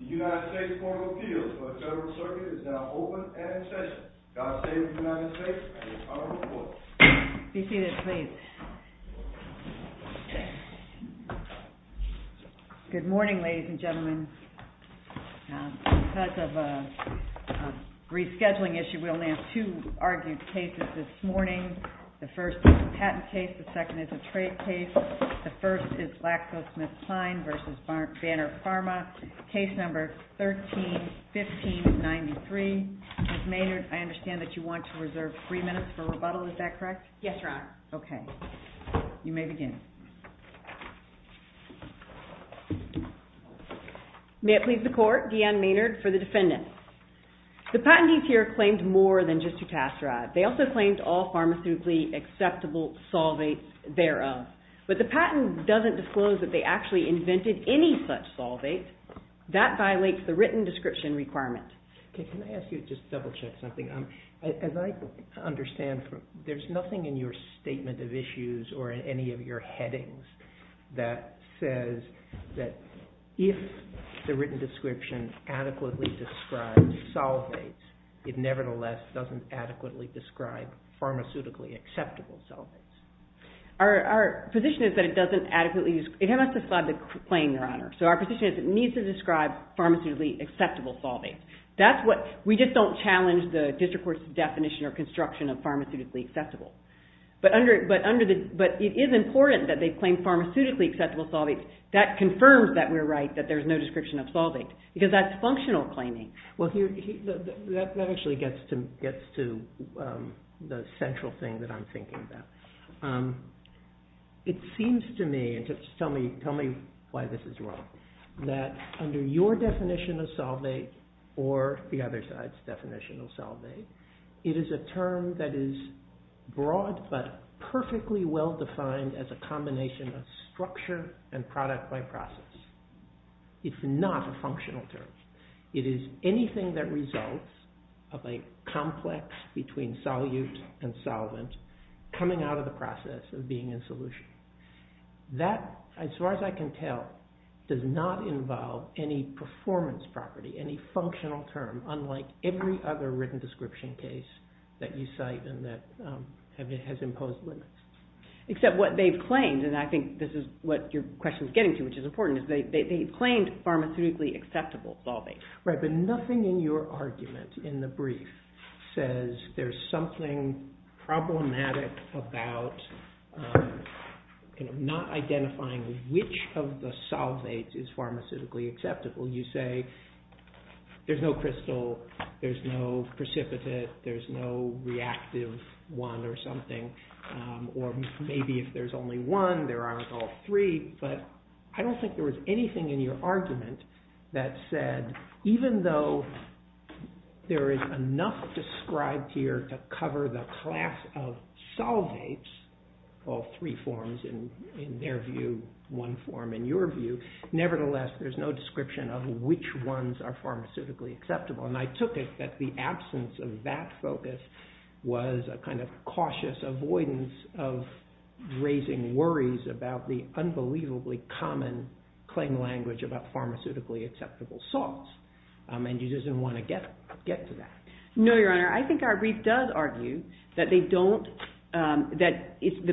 The United States Court of Appeals for the Federal Circuit is now open and in session. God save the United States and the Republic for which it stands, one nation, under God, indivisible, with liberty and justice for all. Be seated, please. Good morning, ladies and gentlemen. Because of a rescheduling issue, we only have two argued cases this morning. The first is a patent case. The second is a trade case. The first is GlaxoSmithKline v. Banner Pharma. Case number 13-15-93. Ms. Maynard, I understand that you want to reserve three minutes for rebuttal. Is that correct? Yes, Your Honor. Okay. You may begin. May it please the Court, Deanne Maynard for the defendant. The patentees here claimed more than just a Tasserad. They also claimed all pharmaceutically acceptable solvates thereof. But the patent doesn't disclose that they actually invented any such solvate. That violates the written description requirement. Okay. Can I ask you to just double check something? As I understand, there's nothing in your statement of issues or in any of your headings that says that if the written description adequately describes solvates, it nevertheless doesn't adequately describe pharmaceutically acceptable solvates. Our position is that it doesn't adequately describe the claim, Your Honor. So our position is that it needs to describe pharmaceutically acceptable solvates. We just don't challenge the district court's definition or construction of pharmaceutically acceptable. But it is important that they claim pharmaceutically acceptable solvates. That confirms that we're right, that there's no description of solvate, because that's functional claiming. Well, that actually gets to the central thing that I'm thinking about. It seems to me, and just tell me why this is wrong, that under your definition of solvate or the other side's definition of solvate, it is a term that is broad but perfectly well-defined as a combination of structure and product by process. It's not a functional term. It is anything that results of a complex between solute and solvent coming out of the process of being in solution. That, as far as I can tell, does not involve any performance property, any functional term, unlike every other written description case that you cite and that has imposed limits. Except what they've claimed, and I think this is what your question is getting to, which is important, is they've claimed pharmaceutically acceptable solvates. Right, but nothing in your argument in the brief says there's something problematic about not identifying which of the solvates is pharmaceutically acceptable. You say there's no crystal, there's no precipitate, there's no reactive one or something, or maybe if there's only one, there aren't all three, but I don't think there was anything in your argument that said, even though there is enough described here to cover the class of solvates, all three forms in their view, one form in your view, nevertheless there's no description of which ones are pharmaceutically acceptable. And I took it that the absence of that focus was a kind of cautious avoidance of raising worries about the unbelievably common claim language about pharmaceutically acceptable salts, and you didn't want to get to that. No, Your Honor, I think our brief does argue that the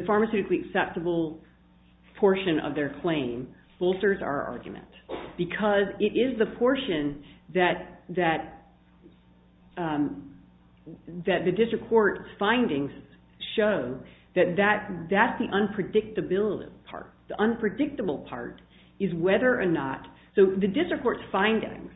pharmaceutically acceptable portion of their claim bolsters our argument because it is the portion that the district court's findings show that that's the unpredictability part. The unpredictable part is whether or not, so the district court's findings,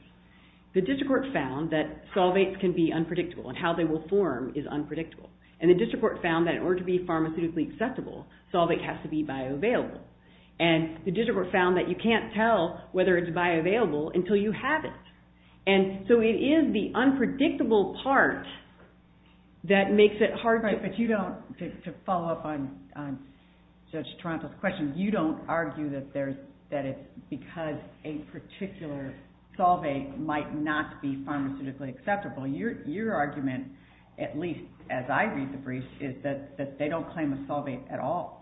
the district court found that solvates can be unpredictable and how they will form is unpredictable, and the district court found that in order to be pharmaceutically acceptable, solvate has to be bioavailable. And the district court found that you can't tell whether it's bioavailable until you have it. And so it is the unpredictable part that makes it hard to... Right, but you don't, to follow up on Judge Toronto's question, you don't argue that it's because a particular solvate might not be pharmaceutically acceptable. Your argument, at least as I read the brief, is that they don't claim a solvate at all.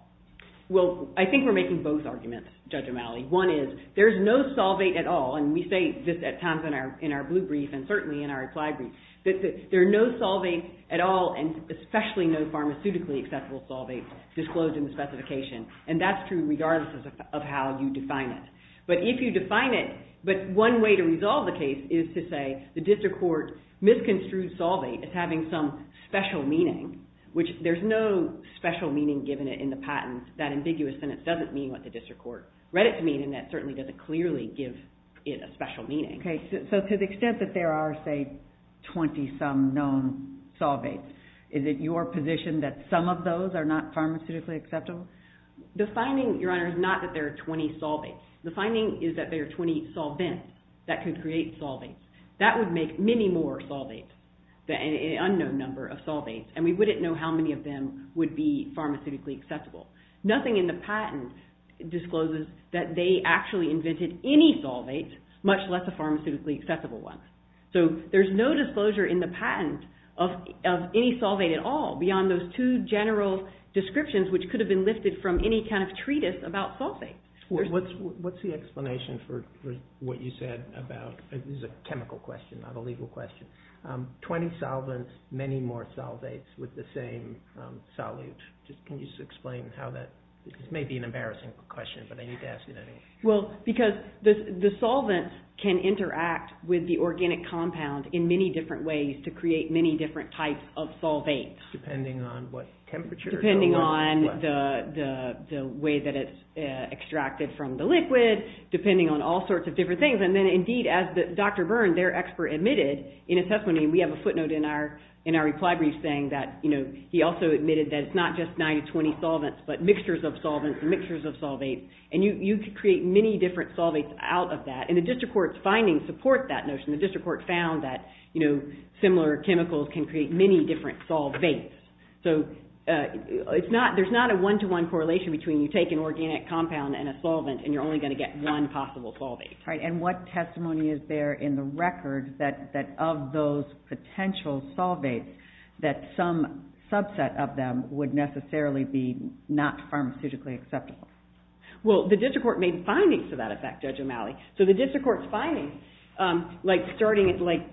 Well, I think we're making both arguments, Judge O'Malley. One is there's no solvate at all, and we say this at times in our blue brief, and certainly in our applied brief, that there are no solvates at all, and especially no pharmaceutically acceptable solvates disclosed in the specification. And that's true regardless of how you define it. But if you define it, but one way to resolve the case is to say the district court misconstrued solvate as having some special meaning, which there's no special meaning given it in the patent. That ambiguous sentence doesn't mean what the district court read it to mean, and that certainly doesn't clearly give it a special meaning. Okay, so to the extent that there are, say, 20-some known solvates, is it your position that some of those are not pharmaceutically acceptable? Defining, Your Honor, is not that there are 20 solvates. The finding is that there are 20 solvents that could create solvates. That would make many more solvates, an unknown number of solvates, and we wouldn't know how many of them would be pharmaceutically acceptable. Nothing in the patent discloses that they actually invented any solvates, much less a pharmaceutically acceptable one. So there's no disclosure in the patent of any solvate at all beyond those two general descriptions which could have been lifted from any kind of treatise about solvates. What's the explanation for what you said about—this is a chemical question, not a legal question— 20 solvents, many more solvates with the same solute? Can you explain how that—this may be an embarrassing question, but I need to ask you that anyway. Well, because the solvents can interact with the organic compound in many different ways to create many different types of solvates. Depending on what temperature? Depending on the way that it's extracted from the liquid, depending on all sorts of different things. And then indeed, as Dr. Byrne, their expert, admitted in a testimony, we have a footnote in our reply brief saying that he also admitted that it's not just 90-20 solvents but mixtures of solvents and mixtures of solvates, and you could create many different solvates out of that. And the district court's findings support that notion. The district court found that similar chemicals can create many different solvates. So there's not a one-to-one correlation between you take an organic compound and a solvent and you're only going to get one possible solvate. Right, and what testimony is there in the record that of those potential solvates that some subset of them would necessarily be not pharmaceutically acceptable? Well, the district court made findings to that effect, Judge O'Malley. So the district court's findings, like starting at findings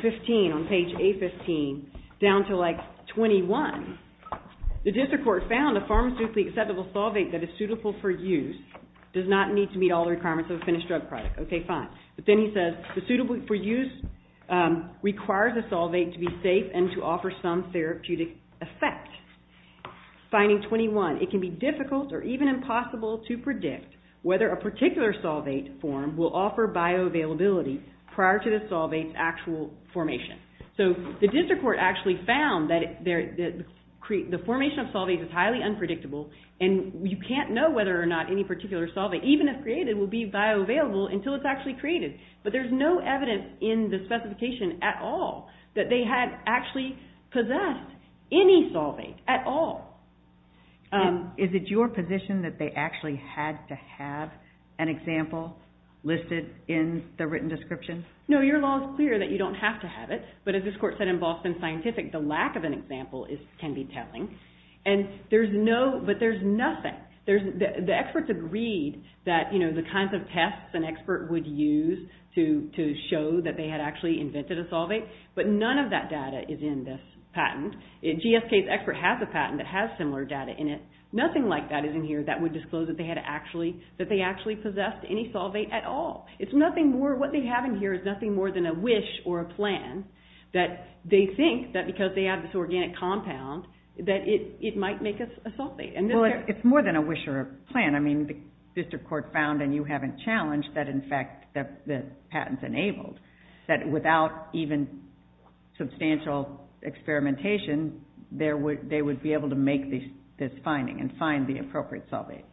15 on page A15 down to like 21, the district court found a pharmaceutically acceptable solvate that is suitable for use does not need to meet all the requirements of a finished drug product. Okay, fine. But then he says the suitable for use requires a solvate to be safe and to offer some therapeutic effect. Finding 21, it can be difficult or even impossible to predict whether a particular solvate form will offer bioavailability prior to the solvate's actual formation. So the district court actually found that the formation of solvates is highly unpredictable and you can't know whether or not any particular solvate, even if created, will be bioavailable until it's actually created. But there's no evidence in the specification at all that they had actually possessed any solvate at all. Is it your position that they actually had to have an example listed in the written description? No, your law is clear that you don't have to have it. But as this court said in Boston Scientific, the lack of an example can be telling. But there's nothing. The experts agreed that the kinds of tests an expert would use to show that they had actually invented a solvate, but none of that data is in this patent. GSK's expert has a patent that has similar data in it. Nothing like that is in here that would disclose that they actually possessed any solvate at all. It's nothing more, what they have in here is nothing more than a wish or a plan that they think that because they have this organic compound, that it might make us a solvate. Well, it's more than a wish or a plan. I mean, the district court found, and you haven't challenged, that in fact the patent's enabled, that without even substantial experimentation, they would be able to make this finding and find the appropriate solvate.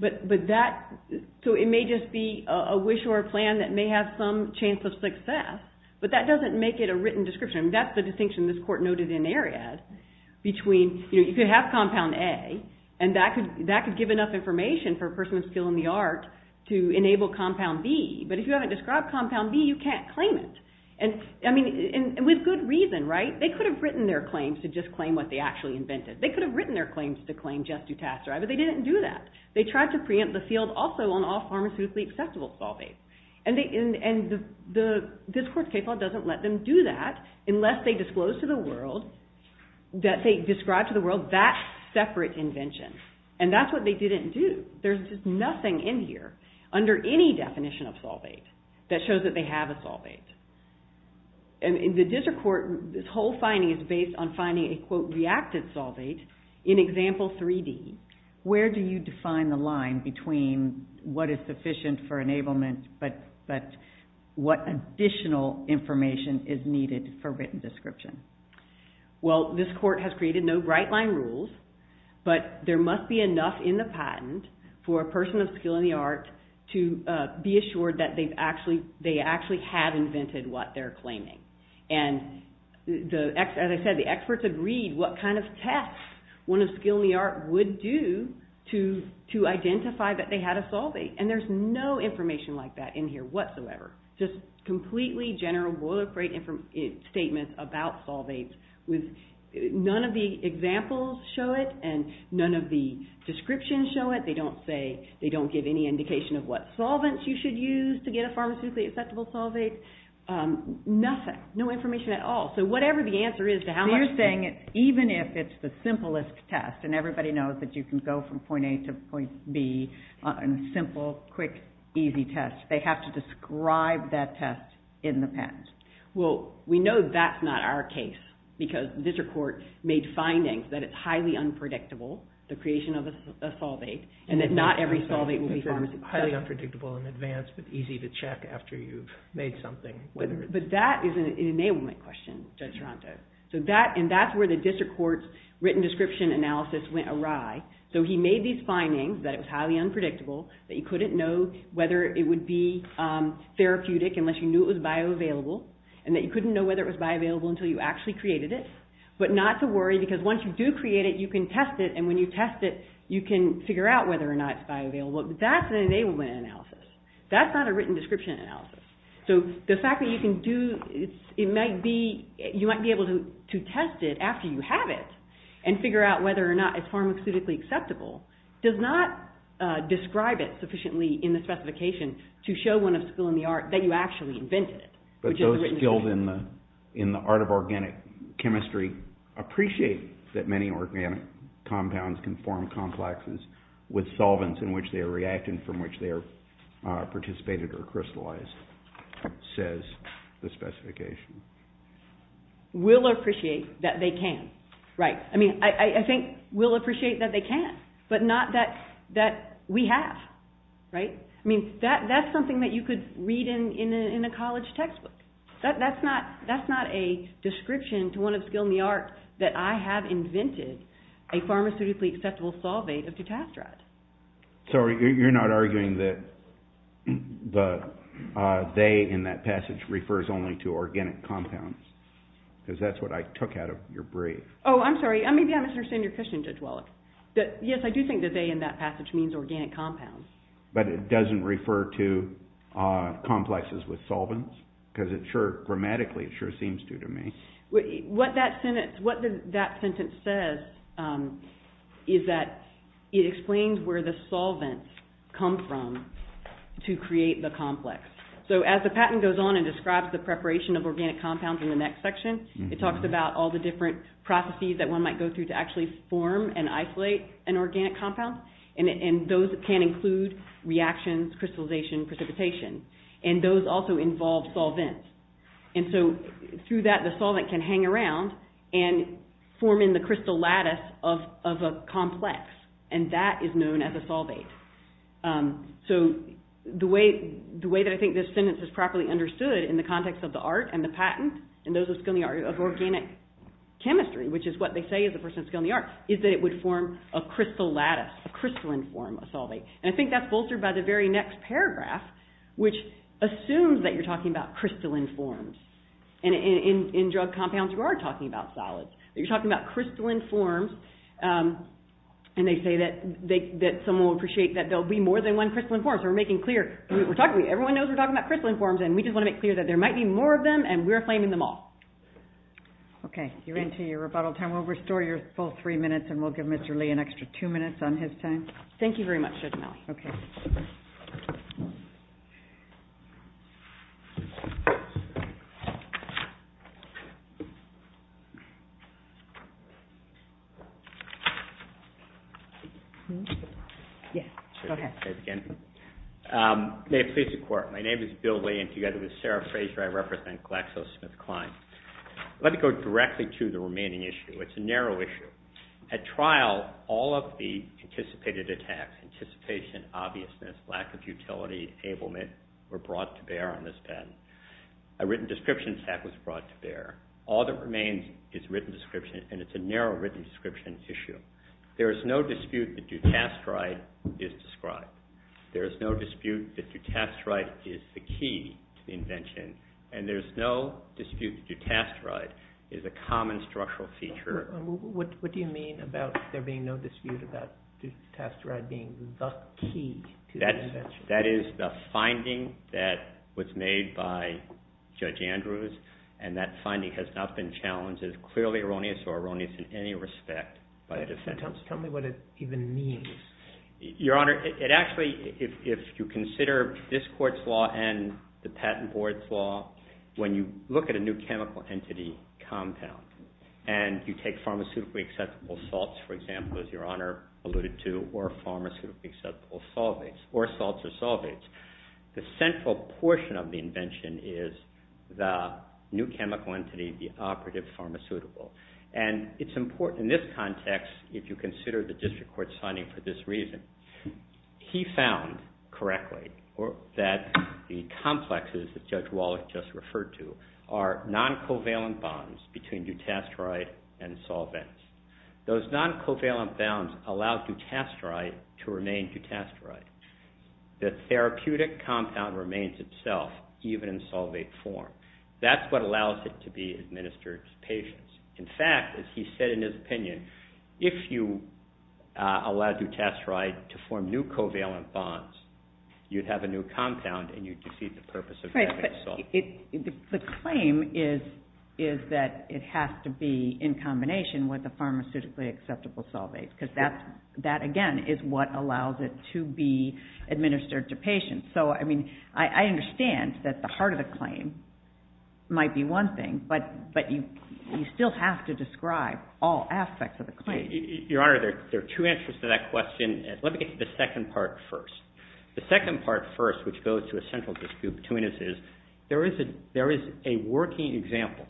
So it may just be a wish or a plan that may have some chance of success, but that doesn't make it a written description. That's the distinction this court noted in Ariad, between, you know, you could have compound A, and that could give enough information for a person with skill in the art to enable compound B. But if you haven't described compound B, you can't claim it. And with good reason, right? They could have written their claims to just claim what they actually invented. They could have written their claims to claim just Dutasteri, but they didn't do that. They tried to preempt the field also on all pharmaceutically acceptable solvates. And the district court's case law doesn't let them do that unless they disclose to the world, that they describe to the world that separate invention. And that's what they didn't do. There's just nothing in here under any definition of solvate that shows that they have a solvate. And in the district court, this whole finding is based on finding a, quote, reacted solvate in example 3D. Where do you define the line between what is sufficient for enablement, but what additional information is needed for written description? Well, this court has created no bright line rules, but there must be enough in the patent for a person of skill in the art to be assured that they actually have invented what they're claiming. And as I said, the experts agreed what kind of tests one of skill in the art would do to identify that they had a solvate. And there's no information like that in here whatsoever. Just completely general boilerplate statements about solvates. None of the examples show it, and none of the descriptions show it. They don't say, they don't give any indication of what solvents you should use to get a pharmaceutically acceptable solvate. Nothing. No information at all. So whatever the answer is to how much... So you're saying even if it's the simplest test, and everybody knows that you can go from point A to point B on a simple, quick, easy test, they have to describe that test in the patent. Well, we know that's not our case because district court made findings that it's highly unpredictable, the creation of a solvate, and that not every solvate will be pharmaceutical. Highly unpredictable in advance, but easy to check after you've made something. But that is an enablement question, Judge Toronto. And that's where the district court's written description analysis went awry. So he made these findings that it was highly unpredictable, that you couldn't know whether it would be therapeutic unless you knew it was bioavailable, and that you couldn't know whether it was bioavailable until you actually created it. But not to worry, because once you do create it, you can test it, and when you test it, you can figure out whether or not it's bioavailable. But that's an enablement analysis. That's not a written description analysis. So the fact that you might be able to test it after you have it and figure out whether or not it's pharmaceutically acceptable does not describe it sufficiently in the specification to show one of skill in the art that you actually invented it. But those skilled in the art of organic chemistry appreciate that many organic compounds can form complexes with solvents in which they are reacting from which they are participated or crystallized, says the specification. Will appreciate that they can. Right. I mean, I think will appreciate that they can, but not that we have. Right? I mean, that's something that you could read in a college textbook. That's not a description to one of skill in the art that I have invented a pharmaceutically acceptable solvate of tetrastrate. Sorry, you're not arguing that the they in that passage refers only to organic compounds? Because that's what I took out of your brief. Oh, I'm sorry. Maybe I misunderstood your question, Judge Wallach. Yes, I do think that they in that passage means organic compounds. But it doesn't refer to complexes with solvents? Because it sure, grammatically, it sure seems to to me. What that sentence says is that it explains where the solvents come from to create the complex. So as the patent goes on and describes the preparation of organic compounds in the next section, it talks about all the different processes that one might go through to actually form and isolate an organic compound. And those can include reactions, crystallization, precipitation. And those also involve solvents. And so through that the solvent can hang around and form in the crystal lattice of a complex. And that is known as a solvate. So the way that I think this sentence is properly understood in the context of the art and the patent, and those of skill in the art, of organic chemistry, which is what they say as a person of skill in the art, is that it would form a crystal lattice, a crystalline form of solvate. And I think that's bolstered by the very next paragraph, which assumes that you're talking about crystalline forms. And in drug compounds you are talking about solids. You're talking about crystalline forms. And they say that someone will appreciate that there will be more than one crystalline form. So we're making clear, everyone knows we're talking about crystalline forms, and we just want to make clear that there might be more of them and we're claiming them all. Okay. You're into your rebuttal time. We'll restore your full three minutes and we'll give Mr. Lee an extra two minutes on his time. Thank you very much, Judge O'Malley. Okay. May it please the Court. My name is Bill Lee and together with Sarah Fraser I represent GlaxoSmithKline. Let me go directly to the remaining issue. It's a narrow issue. At trial, all of the anticipated attacks, anticipation, obviousness, lack of utility, enablement were brought to bear on this patent. A written description attack was brought to bear. All that remains is written description, and it's a narrow written description issue. There is no dispute that dutasteride is described. There is no dispute that dutasteride is the key to the invention. And there is no dispute that dutasteride is a common structural feature. What do you mean about there being no dispute about dutasteride being the key to the invention? That is the finding that was made by Judge Andrews, and that finding has not been challenged as clearly erroneous or erroneous in any respect by the defense. Tell me what it even means. Your Honor, it actually, if you consider this Court's law and the Patent Board's law, when you look at a new chemical entity compound and you take pharmaceutically acceptable salts, for example, as Your Honor alluded to, or pharmaceutically acceptable solvates, or salts or solvates, the central portion of the invention is the new chemical entity, the operative pharmaceutical. And it's important in this context, if you consider the District Court's finding for this reason, he found correctly that the complexes that Judge Wallach just referred to are non-covalent bonds between dutasteride and solvents. Those non-covalent bonds allow dutasteride to remain dutasteride. The therapeutic compound remains itself even in solvate form. That's what allows it to be administered to patients. In fact, as he said in his opinion, if you allowed dutasteride to form new covalent bonds, you'd have a new compound and you'd defeat the purpose of having a solvent. The claim is that it has to be in combination with a pharmaceutically acceptable solvate because that, again, is what allows it to be administered to patients. So I mean, I understand that the heart of the claim might be one thing, but you still have to describe all aspects of the claim. Your Honor, there are two answers to that question. Let me get to the second part first. The second part first, which goes to a central dispute between us, is there is a working example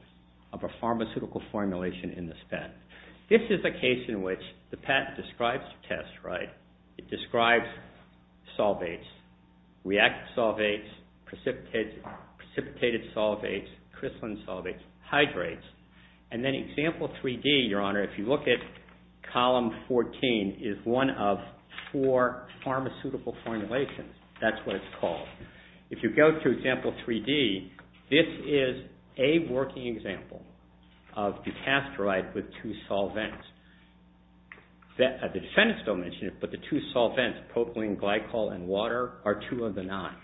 of a pharmaceutical formulation in this patent. This is a case in which the patent describes the test, right? And then Example 3-D, Your Honor, if you look at Column 14, is one of four pharmaceutical formulations. That's what it's called. If you go to Example 3-D, this is a working example of dutasteride with two solvents. The defendant still mentioned it, but the two solvents, propylene glycol and water, are two of the nine,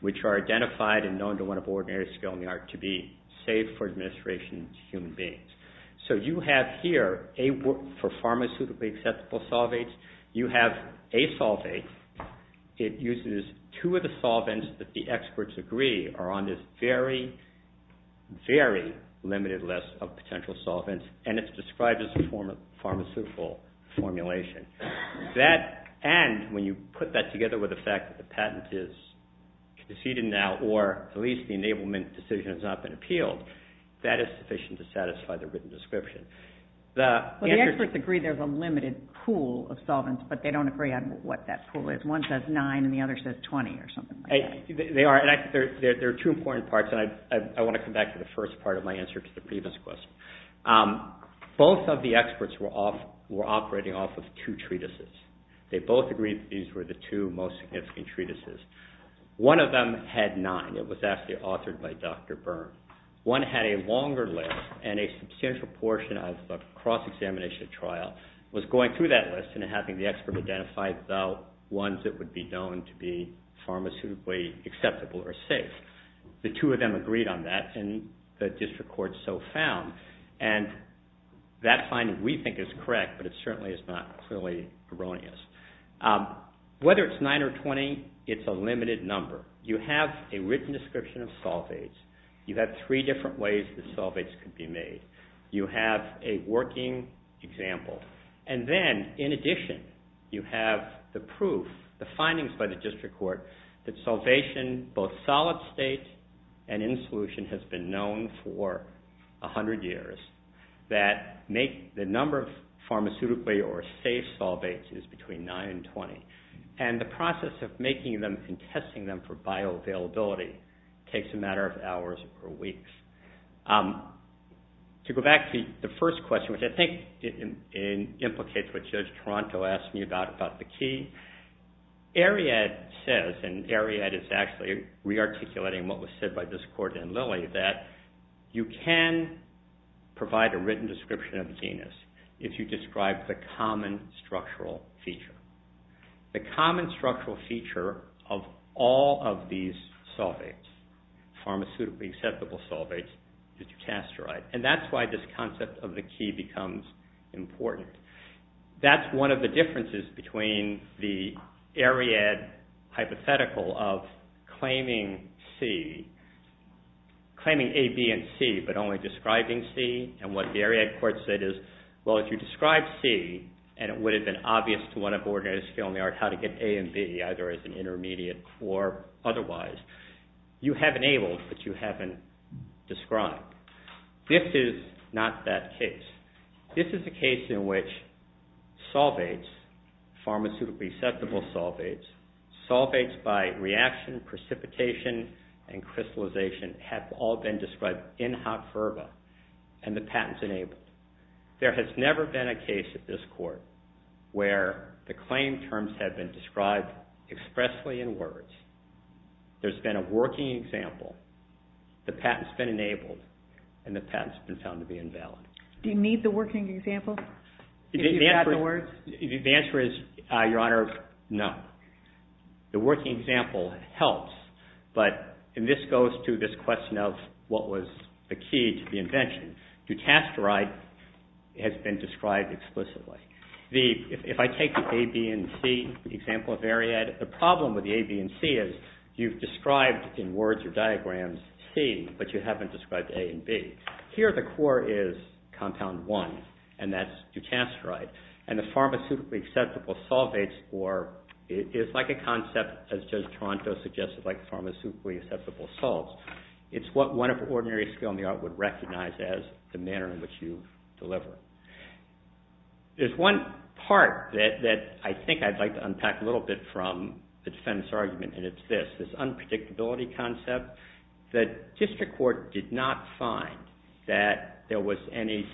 which are identified and known to one of ordinary skill in the art to be, safe for administration to human beings. So you have here, for pharmaceutically acceptable solvates, you have a solvate. It uses two of the solvents that the experts agree are on this very, very limited list of potential solvents, and it's described as a pharmaceutical formulation. That, and when you put that together with the fact that the patent is conceded now, or at least the enablement decision has not been appealed, that is sufficient to satisfy the written description. The experts agree there's a limited pool of solvents, but they don't agree on what that pool is. One says nine and the other says 20 or something like that. They are, and there are two important parts, and I want to come back to the first part of my answer to the previous question. Both of the experts were operating off of two treatises. They both agreed that these were the two most significant treatises. One of them had nine. It was actually authored by Dr. Byrne. One had a longer list, and a substantial portion of the cross-examination trial was going through that list and having the expert identify the ones that would be known to be pharmaceutically acceptable or safe. The two of them agreed on that, and the district court so found. And that finding, we think, is correct, but it certainly is not clearly erroneous. Whether it's nine or 20, it's a limited number. You have a written description of solvates. You have three different ways the solvates could be made. You have a working example. And then, in addition, you have the proof, the findings by the district court, that solvation, both solid state and in solution, has been known for 100 years, that the number of pharmaceutically or safe solvates is between nine and 20. And the process of making them and testing them for bioavailability takes a matter of hours or weeks. To go back to the first question, which I think implicates what Judge Toronto asked me about, about the key, Ariad says, and Ariad is actually re-articulating what was said by this court in Lilly, that you can provide a written description of the genus if you describe the common structural feature. The common structural feature of all of these solvates, pharmaceutically acceptable solvates, is dutasteride. And that's why this concept of the key becomes important. That's one of the differences between the Ariad hypothetical of claiming C, claiming A, B, and C, but only describing C. And what the Ariad court said is, well, if you describe C, and it would have been obvious to one of the ordinators how to get A and B, either as an intermediate or otherwise, you have enabled, but you haven't described. This is not that case. This is a case in which solvates, pharmaceutically acceptable solvates, solvates by reaction, precipitation, and crystallization have all been described in hot fervor, and the patent's enabled. There has never been a case at this court where the claim terms have been described expressly in words. There's been a working example, the patent's been enabled, and the patent's been found to be invalid. Do you need the working example? The answer is, Your Honor, no. The working example helps, but this goes to this question of what was the key to the invention. Dutasteride has been described explicitly. If I take the A, B, and C example of Ariad, the problem with the A, B, and C is, you've described in words or diagrams C, but you haven't described A and B. Here, the core is compound one, and that's Dutasteride, and the pharmaceutically acceptable solvates, or it's like a concept, as Judge Toronto suggested, like pharmaceutically acceptable salts. It's what one of ordinary skill in the art would recognize as the manner in which you deliver. There's one part that I think I'd like to unpack a little bit from the defendant's argument, and it's this, this unpredictability concept. The district court did not find that there was any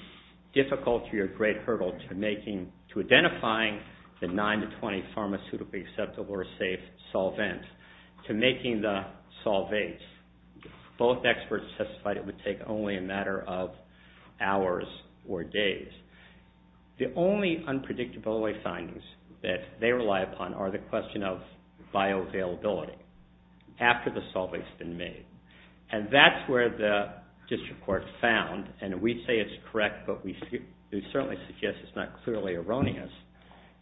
difficulty or great hurdle to making, to identifying the 9 to 20 pharmaceutically acceptable or safe solvent to making the solvates. Both experts testified it would take only a matter of hours or days. The only unpredictability findings that they rely upon are the question of bioavailability, after the solvent's been made, and that's where the district court found, and we say it's correct, but we certainly suggest it's not clearly erroneous.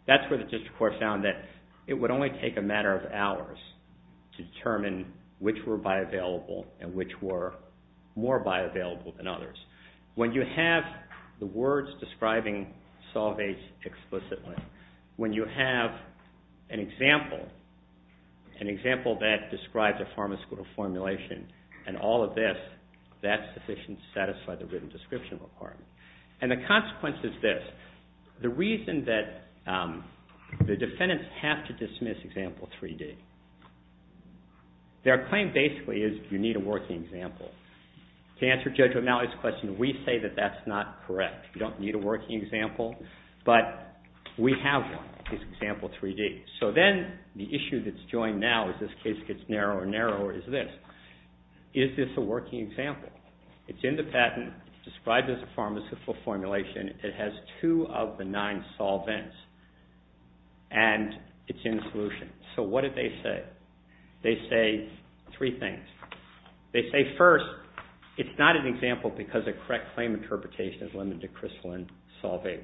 That's where the district court found that it would only take a matter of hours to determine which were bioavailable and which were more bioavailable than others. When you have the words describing solvates explicitly, when you have an example, an example that describes a pharmaceutical formulation and all of this, that's sufficient to satisfy the written description requirement. And the consequence is this. The reason that the defendants have to dismiss example 3D, their claim basically is you need a working example. To answer Judge O'Malley's question, we say that that's not correct. You don't need a working example, but we have one. It's example 3D. So then the issue that's joined now as this case gets narrower and narrower is this. Is this a working example? It's in the patent. It's described as a pharmaceutical formulation. It has two of the nine solvents, and it's in the solution. So what did they say? They say three things. They say first, it's not an example because a correct claim interpretation is limited to crystalline solvates.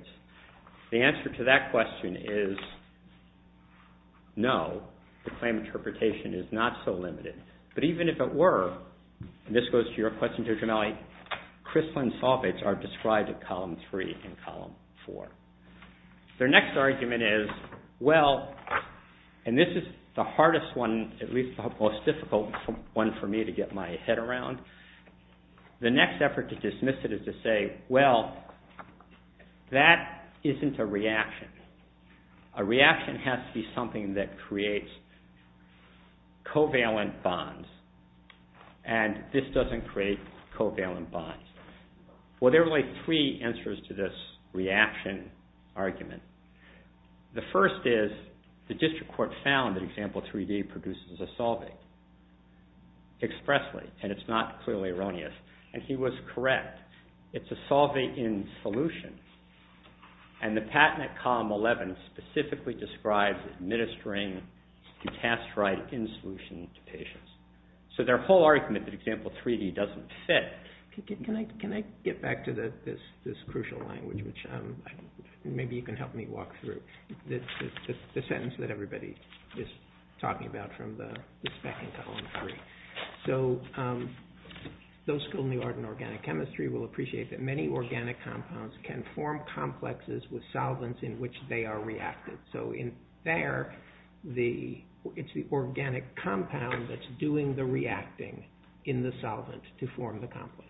The answer to that question is no, the claim interpretation is not so limited. But even if it were, and this goes to your question, Judge O'Malley, crystalline solvates are described in Column 3 and Column 4. Their next argument is, well, and this is the hardest one, at least the most difficult one for me to get my head around. The next effort to dismiss it is to say, well, that isn't a reaction. A reaction has to be something that creates covalent bonds, and this doesn't create covalent bonds. Well, there are only three answers to this reaction argument. The first is the district court found that Example 3D produces a solvate expressly, and it's not clearly erroneous, and he was correct. It's a solvate in solution, and the patent at Column 11 specifically describes administering the test right in solution to patients. So their whole argument that Example 3D doesn't fit, Can I get back to this crucial language, which maybe you can help me walk through? The sentence that everybody is talking about from the spec in Column 3. So those who are in organic chemistry will appreciate that many organic compounds can form complexes with solvents in which they are reacted. So in there, it's the organic compound that's doing the reacting in the solvent to form the complex,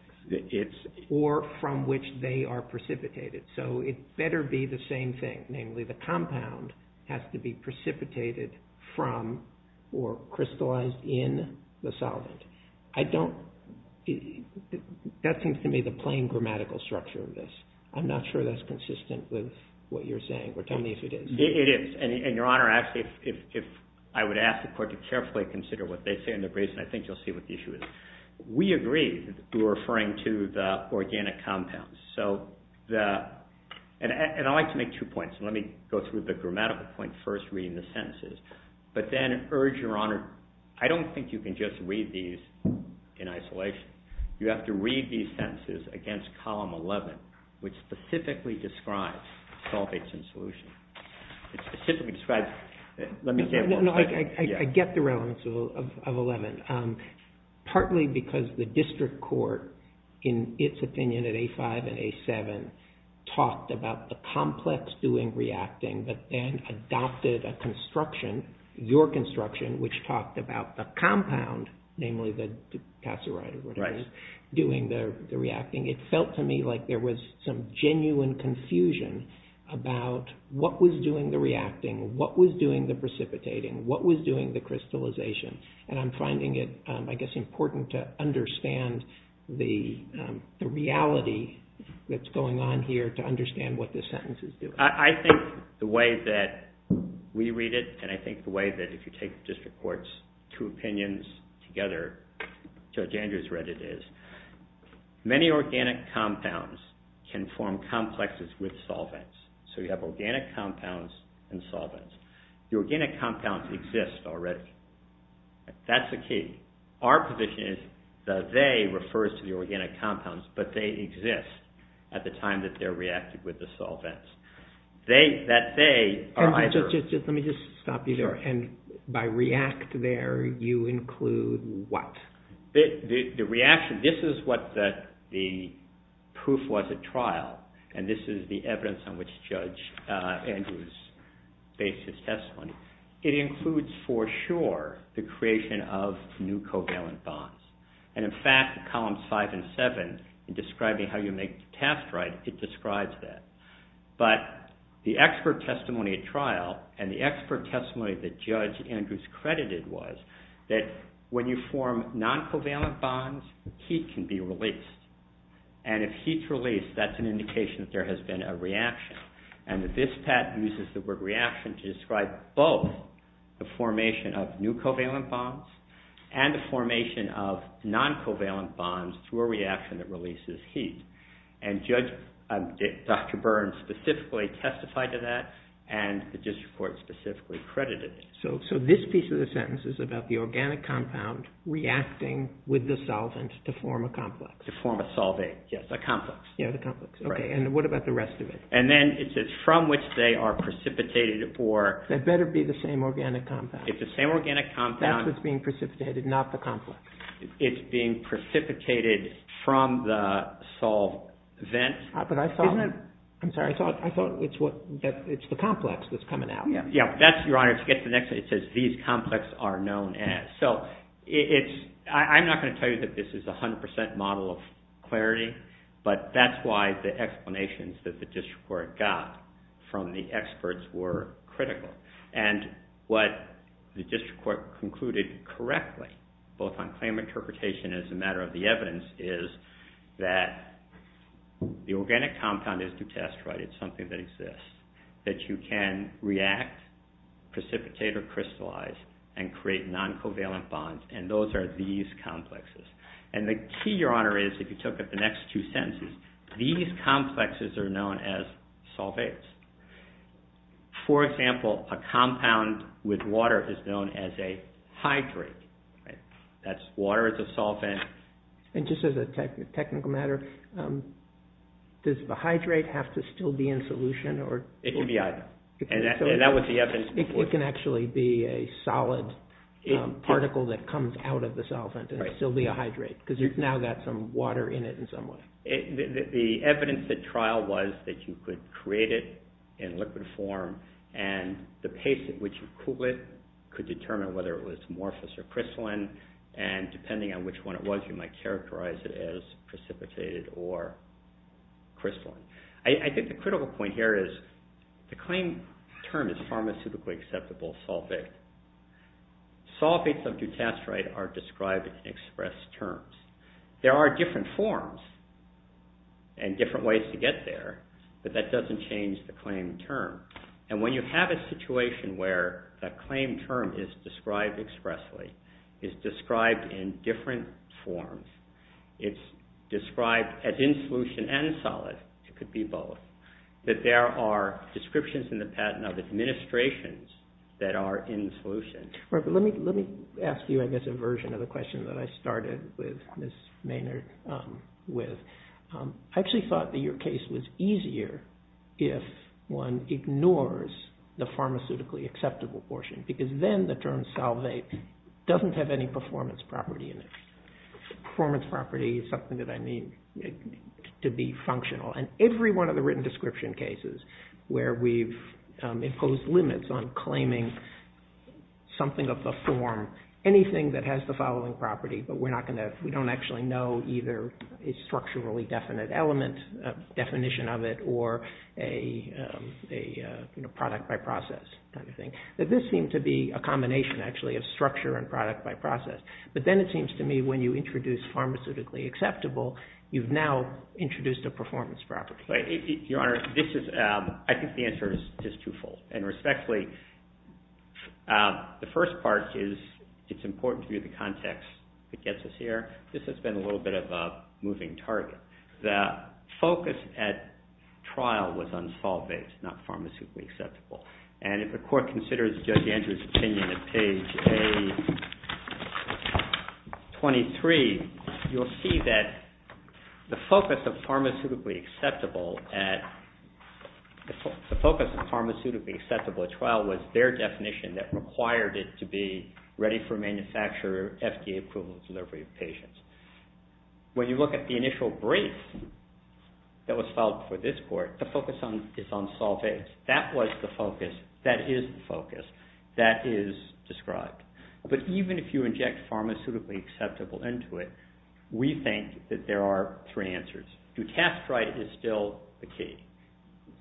or from which they are precipitated. So it better be the same thing. Namely, the compound has to be precipitated from or crystallized in the solvent. That seems to me the plain grammatical structure of this. I'm not sure that's consistent with what you're saying, but tell me if it is. It is, and Your Honor, actually, if I would ask the court to carefully consider what they say in their briefs, and I think you'll see what the issue is. We agree. We're referring to the organic compounds. And I'd like to make two points. Let me go through the grammatical point first, reading the sentences. But then, I urge Your Honor, I don't think you can just read these in isolation. You have to read these sentences against Column 11, which specifically describes solvates in solution. I get the relevance of 11. Partly because the district court, in its opinion, at A5 and A7, talked about the complex doing reacting, but then adopted a construction, your construction, which talked about the compound, namely the casserite, doing the reacting. It felt to me like there was some genuine confusion about what was doing the reacting, what was doing the precipitating, what was doing the crystallization. And I'm finding it, I guess, important to understand the reality that's going on here to understand what this sentence is doing. I think the way that we read it, and I think the way that, if you take the district court's two opinions together, Judge Andrews read it as, Many organic compounds can form complexes with solvents. So you have organic compounds and solvents. The organic compounds exist already. That's the key. Our position is the they refers to the organic compounds, but they exist at the time that they're reacted with the solvents. That they are either... Let me just stop you there. And by react there, you include what? The reaction, this is what the proof was at trial, and this is the evidence on which Judge Andrews based his testimony. It includes for sure the creation of new covalent bonds. And in fact, columns five and seven, in describing how you make the test right, it describes that. But the expert testimony at trial, and the expert testimony that Judge Andrews credited was, that when you form non-covalent bonds, heat can be released. And if heat's released, that's an indication that there has been a reaction. And that this patent uses the word reaction to describe both the formation of new covalent bonds, and the formation of non-covalent bonds through a reaction that releases heat. And Judge, Dr. Burns specifically testified to that, and the district court specifically credited it. So this piece of the sentence is about the organic compound reacting with the solvent to form a complex. To form a solvate, yes, a complex. Yeah, the complex. Okay, and what about the rest of it? And then it says, from which they are precipitated or... That better be the same organic compound. It's the same organic compound. That's what's being precipitated, not the complex. It's being precipitated from the solvent. But I thought... Isn't it... I'm sorry, I thought it's the complex that's coming out. Yeah, that's... Your Honor, to get to the next thing, it says these complex are known as. So it's... I'm not going to tell you that this is 100% model of clarity, but that's why the explanations that the district court got from the experts were critical. And what the district court concluded correctly, both on claim interpretation as a matter of the evidence, is that the organic compound is to test, right? It's something that exists. That you can react, precipitate, or crystallize, and create non-covalent bonds. And those are these complexes. And the key, Your Honor, is, if you look at the next two sentences, these complexes are known as solvates. For example, a compound with water is known as a hydrate, right? That's water as a solvent. And just as a technical matter, does the hydrate have to still be in solution? It can be either. And that was the evidence before. It can actually be a solid particle that comes out of the solvent and still be a hydrate, because you've now got some water in it in some way. The evidence at trial was that you could create it in liquid form and the pace at which you cool it could determine whether it was amorphous or crystalline. And depending on which one it was, you might characterize it as precipitated or crystalline. I think the critical point here is, the claim term is pharmaceutically acceptable, solvate. Solvates of dutasterate are described in express terms. There are different forms and different ways to get there, but that doesn't change the claim term. And when you have a situation where the claim term is described expressly, is described in different forms, it's described as in solution and solid, it could be both, that there are descriptions in the patent of administrations that are in solution. Let me ask you, I guess, a version of the question that I started with Ms. Maynard with. I actually thought that your case was easier if one ignores the pharmaceutically acceptable portion, because then the term solvate doesn't have any performance property in it. Performance property is something that I need to be functional. And every one of the written description cases where we've imposed limits on claiming something of the form, anything that has the following property, but we don't actually know either a structurally definite element, definition of it, or a product by process kind of thing, that this seemed to be a combination, actually, of structure and product by process. But then it seems to me when you introduce pharmaceutically acceptable, you've now introduced a performance property. Your Honor, I think the answer is twofold. And respectfully, the first part is, it's important to view the context that gets us here. This has been a little bit of a moving target. The focus at trial was on solvate, not pharmaceutically acceptable. And if the Court considers Judge Andrews' opinion at page A23, you'll see that the focus of pharmaceutically acceptable at trial was their definition that required it to be ready-for-manufacture, FDA-approval delivery of patients. When you look at the initial brief that was filed for this Court, the focus is on solvates. That was the focus. That is the focus. That is described. But even if you inject pharmaceutically acceptable into it, we think that there are three answers. Do test right is still the key,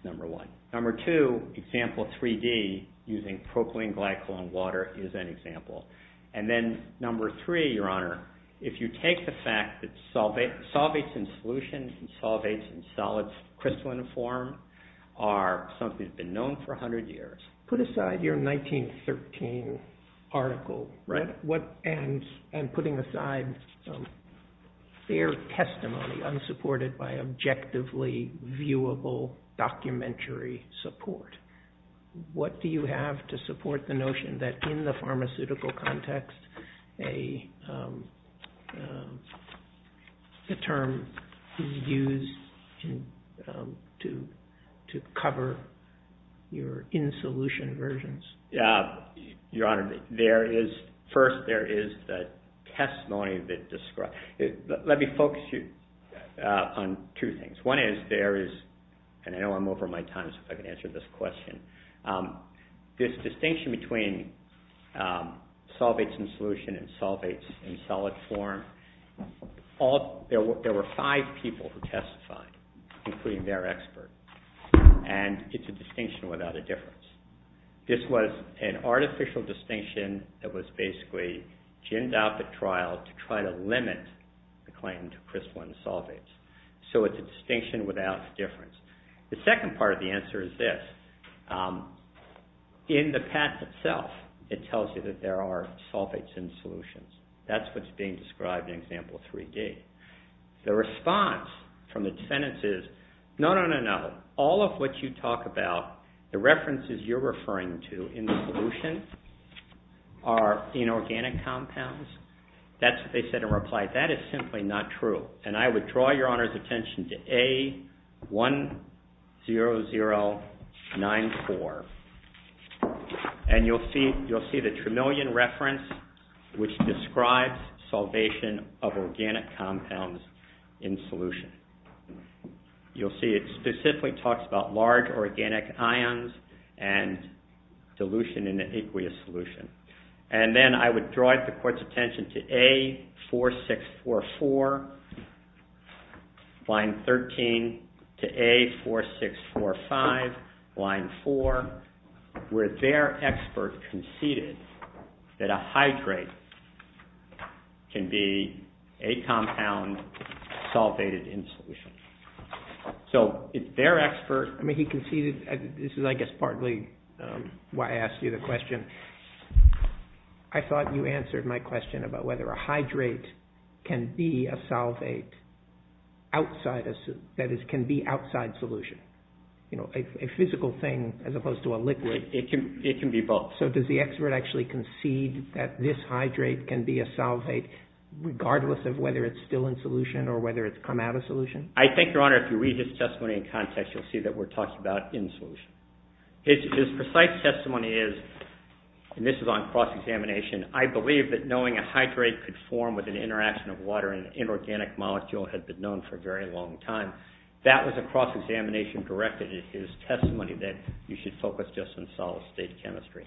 number one. Number two, example 3D using propylene glycol in water is an example. And then number three, Your Honor, if you take the fact that solvates in solutions and solvates in solids crystalline form are something that's been known for 100 years. Put aside your 1913 article and putting aside fair testimony unsupported by objectively viewable documentary support. What do you have to support the notion that in the pharmaceutical context a term is used to cover your in-solution versions? Your Honor, first there is the testimony that describes. Let me focus you on two things. One is there is, and I know I'm over my time, so if I can answer this question. This distinction between solvates in solution and solvates in solid form, there were five people who testified, including their expert. And it's a distinction without a difference. This was an artificial distinction that was basically ginned out the trial to try to limit the claim to crystalline solvates. So it's a distinction without a difference. The second part of the answer is this. In the past itself, it tells you that there are solvates in solutions. That's what's being described in example 3D. The response from the defendants is, no, no, no, no, all of what you talk about, the references you're referring to in the solution are inorganic compounds. That's what they said in reply. That is simply not true. And I would draw your Honor's attention to A10094. And you'll see the Tremillion reference, which describes solvation of organic compounds in solution. You'll see it specifically talks about large organic ions and dilution in an aqueous solution. And then I would draw the court's attention to A4644, line 13, to A4645, line 4, where their expert conceded that a hydrate can be a compound solvated in solution. So if their expert, I mean he conceded, this is I guess partly why I asked you the question. I thought you answered my question about whether a hydrate can be a solvate that can be outside solution. You know, a physical thing as opposed to a liquid. It can be both. So does the expert actually concede that this hydrate can be a solvate regardless of whether it's still in solution or whether it's come out of solution? I think, Your Honor, if you read his testimony in context, you'll see that we're talking about in solution. His precise testimony is, and this is on cross-examination, I believe that knowing a hydrate could form with an interaction of water in an inorganic molecule had been known for a very long time. That was a cross-examination directed at his testimony that you should focus just on solid-state chemistry.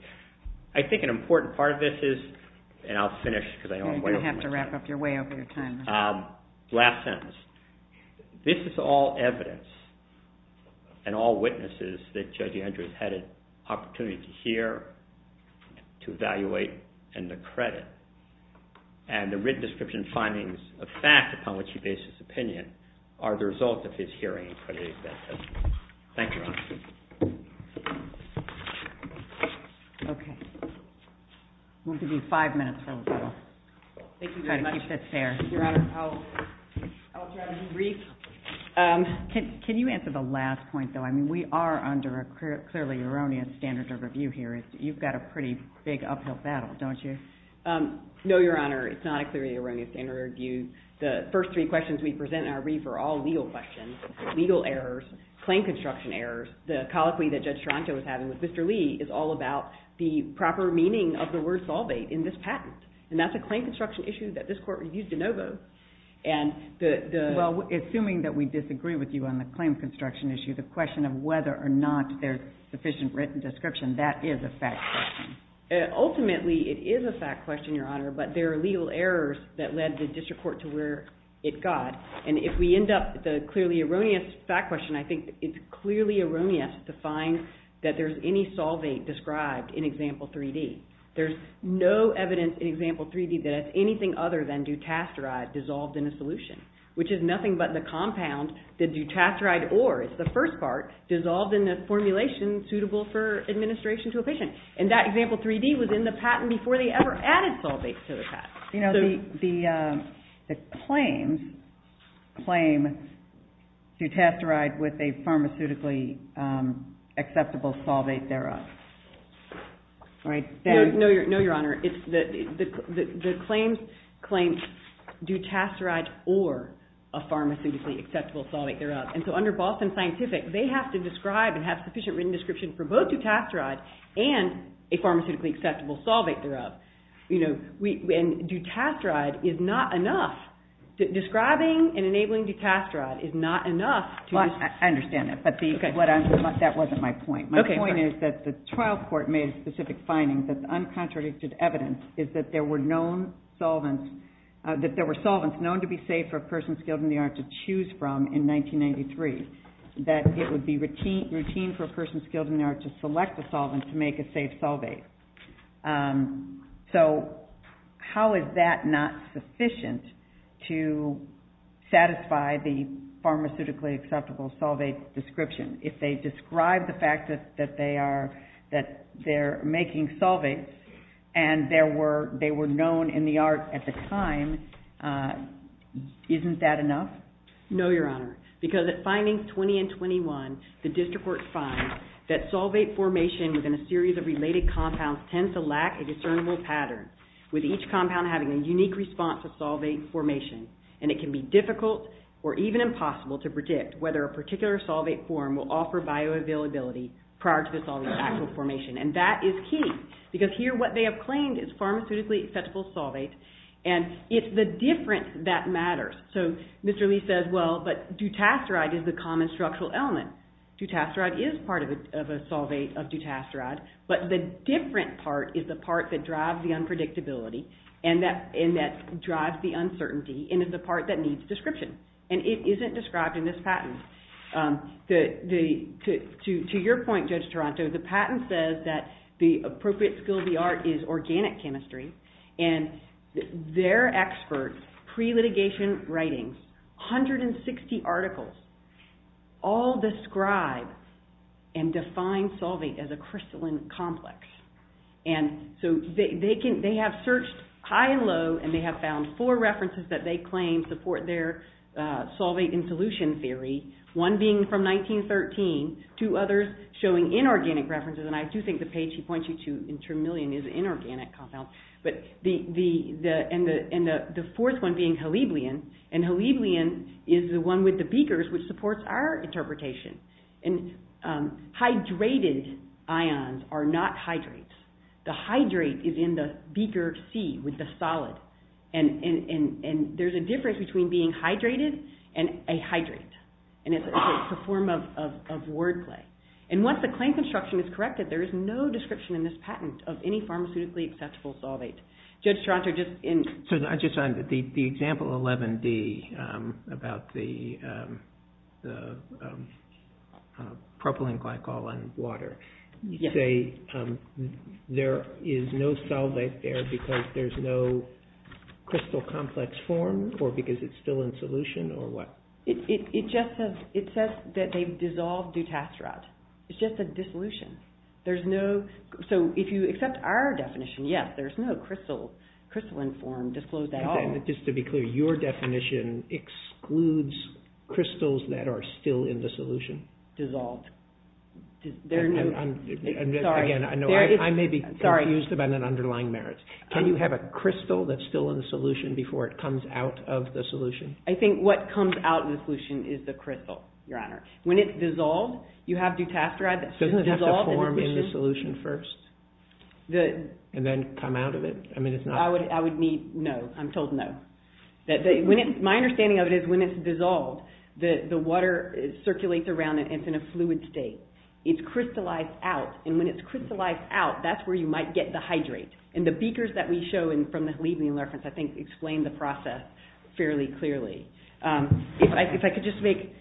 I think an important part of this is, and I'll finish because I know I'm way over my time. You're going to have to wrap up. You're way over your time. Last sentence. This is all evidence and all witnesses that Judge Andrews had an opportunity to hear, to evaluate, and to credit. And the written description findings of fact upon which he bases his opinion are the result of his hearing and crediting that testimony. Thank you, Your Honor. Okay. We'll give you five minutes for the panel. Thank you very much. Try to keep this fair. Your Honor, I'll try to be brief. Can you answer the last point, though? I mean, we are under a clearly erroneous standard of review here. You've got a pretty big uphill battle, don't you? No, Your Honor, it's not a clearly erroneous standard of review. The first three questions we present in our brief are all legal questions, legal errors, claim construction errors. The colloquy that Judge Ciancio was having with Mr. Lee is all about the proper meaning of the word solvate in this patent, and that's a claim construction issue that this Court reviews de novo. Well, assuming that we disagree with you on the claim construction issue, the question of whether or not there's sufficient written description, that is a fact question. Ultimately, it is a fact question, Your Honor, but there are legal errors that led the District Court to where it got. And if we end up with a clearly erroneous fact question, I think it's clearly erroneous to find that there's any solvate described in Example 3D. There's no evidence in Example 3D that it's anything other than dutasteride dissolved in a solution, which is nothing but the compound, the dutasteride ore is the first part, dissolved in a formulation suitable for administration to a patient. And that Example 3D was in the patent before they ever added solvate to the patent. You know, the claims claim dutasteride with a pharmaceutically acceptable solvate thereof. No, Your Honor. The claims claim dutasteride or a pharmaceutically acceptable solvate thereof. And so under Boston Scientific, they have to describe and have sufficient written description for both dutasteride and a pharmaceutically acceptable solvate thereof. And dutasteride is not enough. Describing and enabling dutasteride is not enough. I understand that, but that wasn't my point. My point is that the trial court made specific findings that the uncontradicted evidence is that there were known solvents, that there were solvents known to be safe for a person skilled in the art to choose from in 1993, that it would be routine for a person skilled in the art to select the solvent to make a safe solvate. So how is that not sufficient to satisfy the pharmaceutically acceptable solvate description? If they describe the fact that they are making solvates and they were known in the art at the time, isn't that enough? No, Your Honor, because at findings 20 and 21, the district court finds that solvate formation within a series of related compounds tends to lack a discernible pattern, with each compound having a unique response to solvate formation. And it can be difficult or even impossible to predict whether a particular solvate form will offer bioavailability prior to the solvent's actual formation, and that is key. Because here what they have claimed is pharmaceutically acceptable solvate, and it's the difference that matters. So Mr. Lee says, well, but dutasteride is the common structural element. Dutasteride is part of a solvate of dutasteride, but the different part is the part that drives the unpredictability and that drives the uncertainty and is the part that needs description. And it isn't described in this patent. To your point, Judge Taranto, the patent says that the appropriate skill of the art is organic chemistry, and their experts, pre-litigation writings, 160 articles, all describe and define solvate as a crystalline complex. And so they have searched high and low and they have found four references that they claim support their solvate-in-solution theory, one being from 1913, two others showing inorganic references, and I do think the page he points you to in Tremillion is inorganic compounds. And the fourth one being haliblein, and haliblein is the one with the beakers which supports our interpretation. And hydrated ions are not hydrates. The hydrate is in the beaker C with the solid. And there's a difference between being hydrated and a hydrate. And it's a form of wordplay. And once the claim construction is corrected, there is no description in this patent of any pharmaceutically acceptable solvate. Judge Taranto, just in... So I just wanted the example 11-D about the propylene glycol in water. You say there is no solvate there because there's no crystal complex form or because it's still in solution or what? It just says that they've dissolved dutasterate. It's just a dissolution. There's no... So if you accept our definition, yes, there's no crystal in form disclosed at all. And just to be clear, your definition excludes crystals that are still in the solution? Dissolved. There are no... Again, I may be confused about an underlying merit. Can you have a crystal that's still in the solution before it comes out of the solution? I think what comes out of the solution is the crystal, Your Honor. When it's dissolved, you have dutasterate... Doesn't it have to form in the solution first? And then come out of it? I would need no. I'm told no. My understanding of it is when it's dissolved, the water circulates around it and it's in a fluid state. It's crystallized out. And when it's crystallized out, that's where you might get the hydrate. And the beakers that we show from the Halidnian reference, I think, explain the process fairly clearly. If I could just make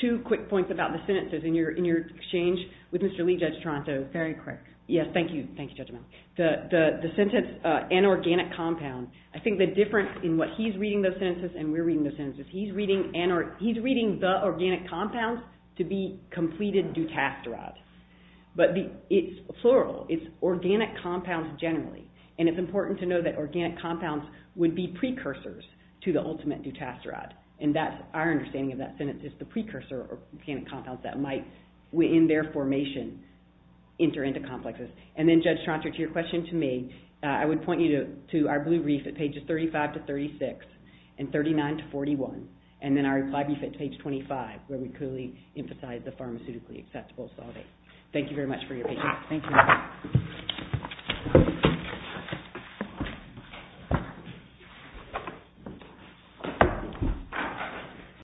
two quick points about the sentences in your exchange with Mr. Lee, Judge Toronto. Very quick. Yes, thank you. Thank you, Judge O'Meara. The sentence, an organic compound, I think the difference in what he's reading those sentences and we're reading those sentences, he's reading the organic compounds to be completed dutasterate. But it's plural. It's organic compounds generally. And it's important to know that organic compounds would be precursors to the ultimate dutasterate. And our understanding of that sentence is the precursor organic compounds that might, in their formation, enter into complexes. And then, Judge Toronto, to your question to me, I would point you to our blue brief at pages 35 to 36 and 39 to 41. And then our reply brief at page 25 where we clearly emphasize the pharmaceutically accessible solvay. Thank you very much for your patience. Thank you.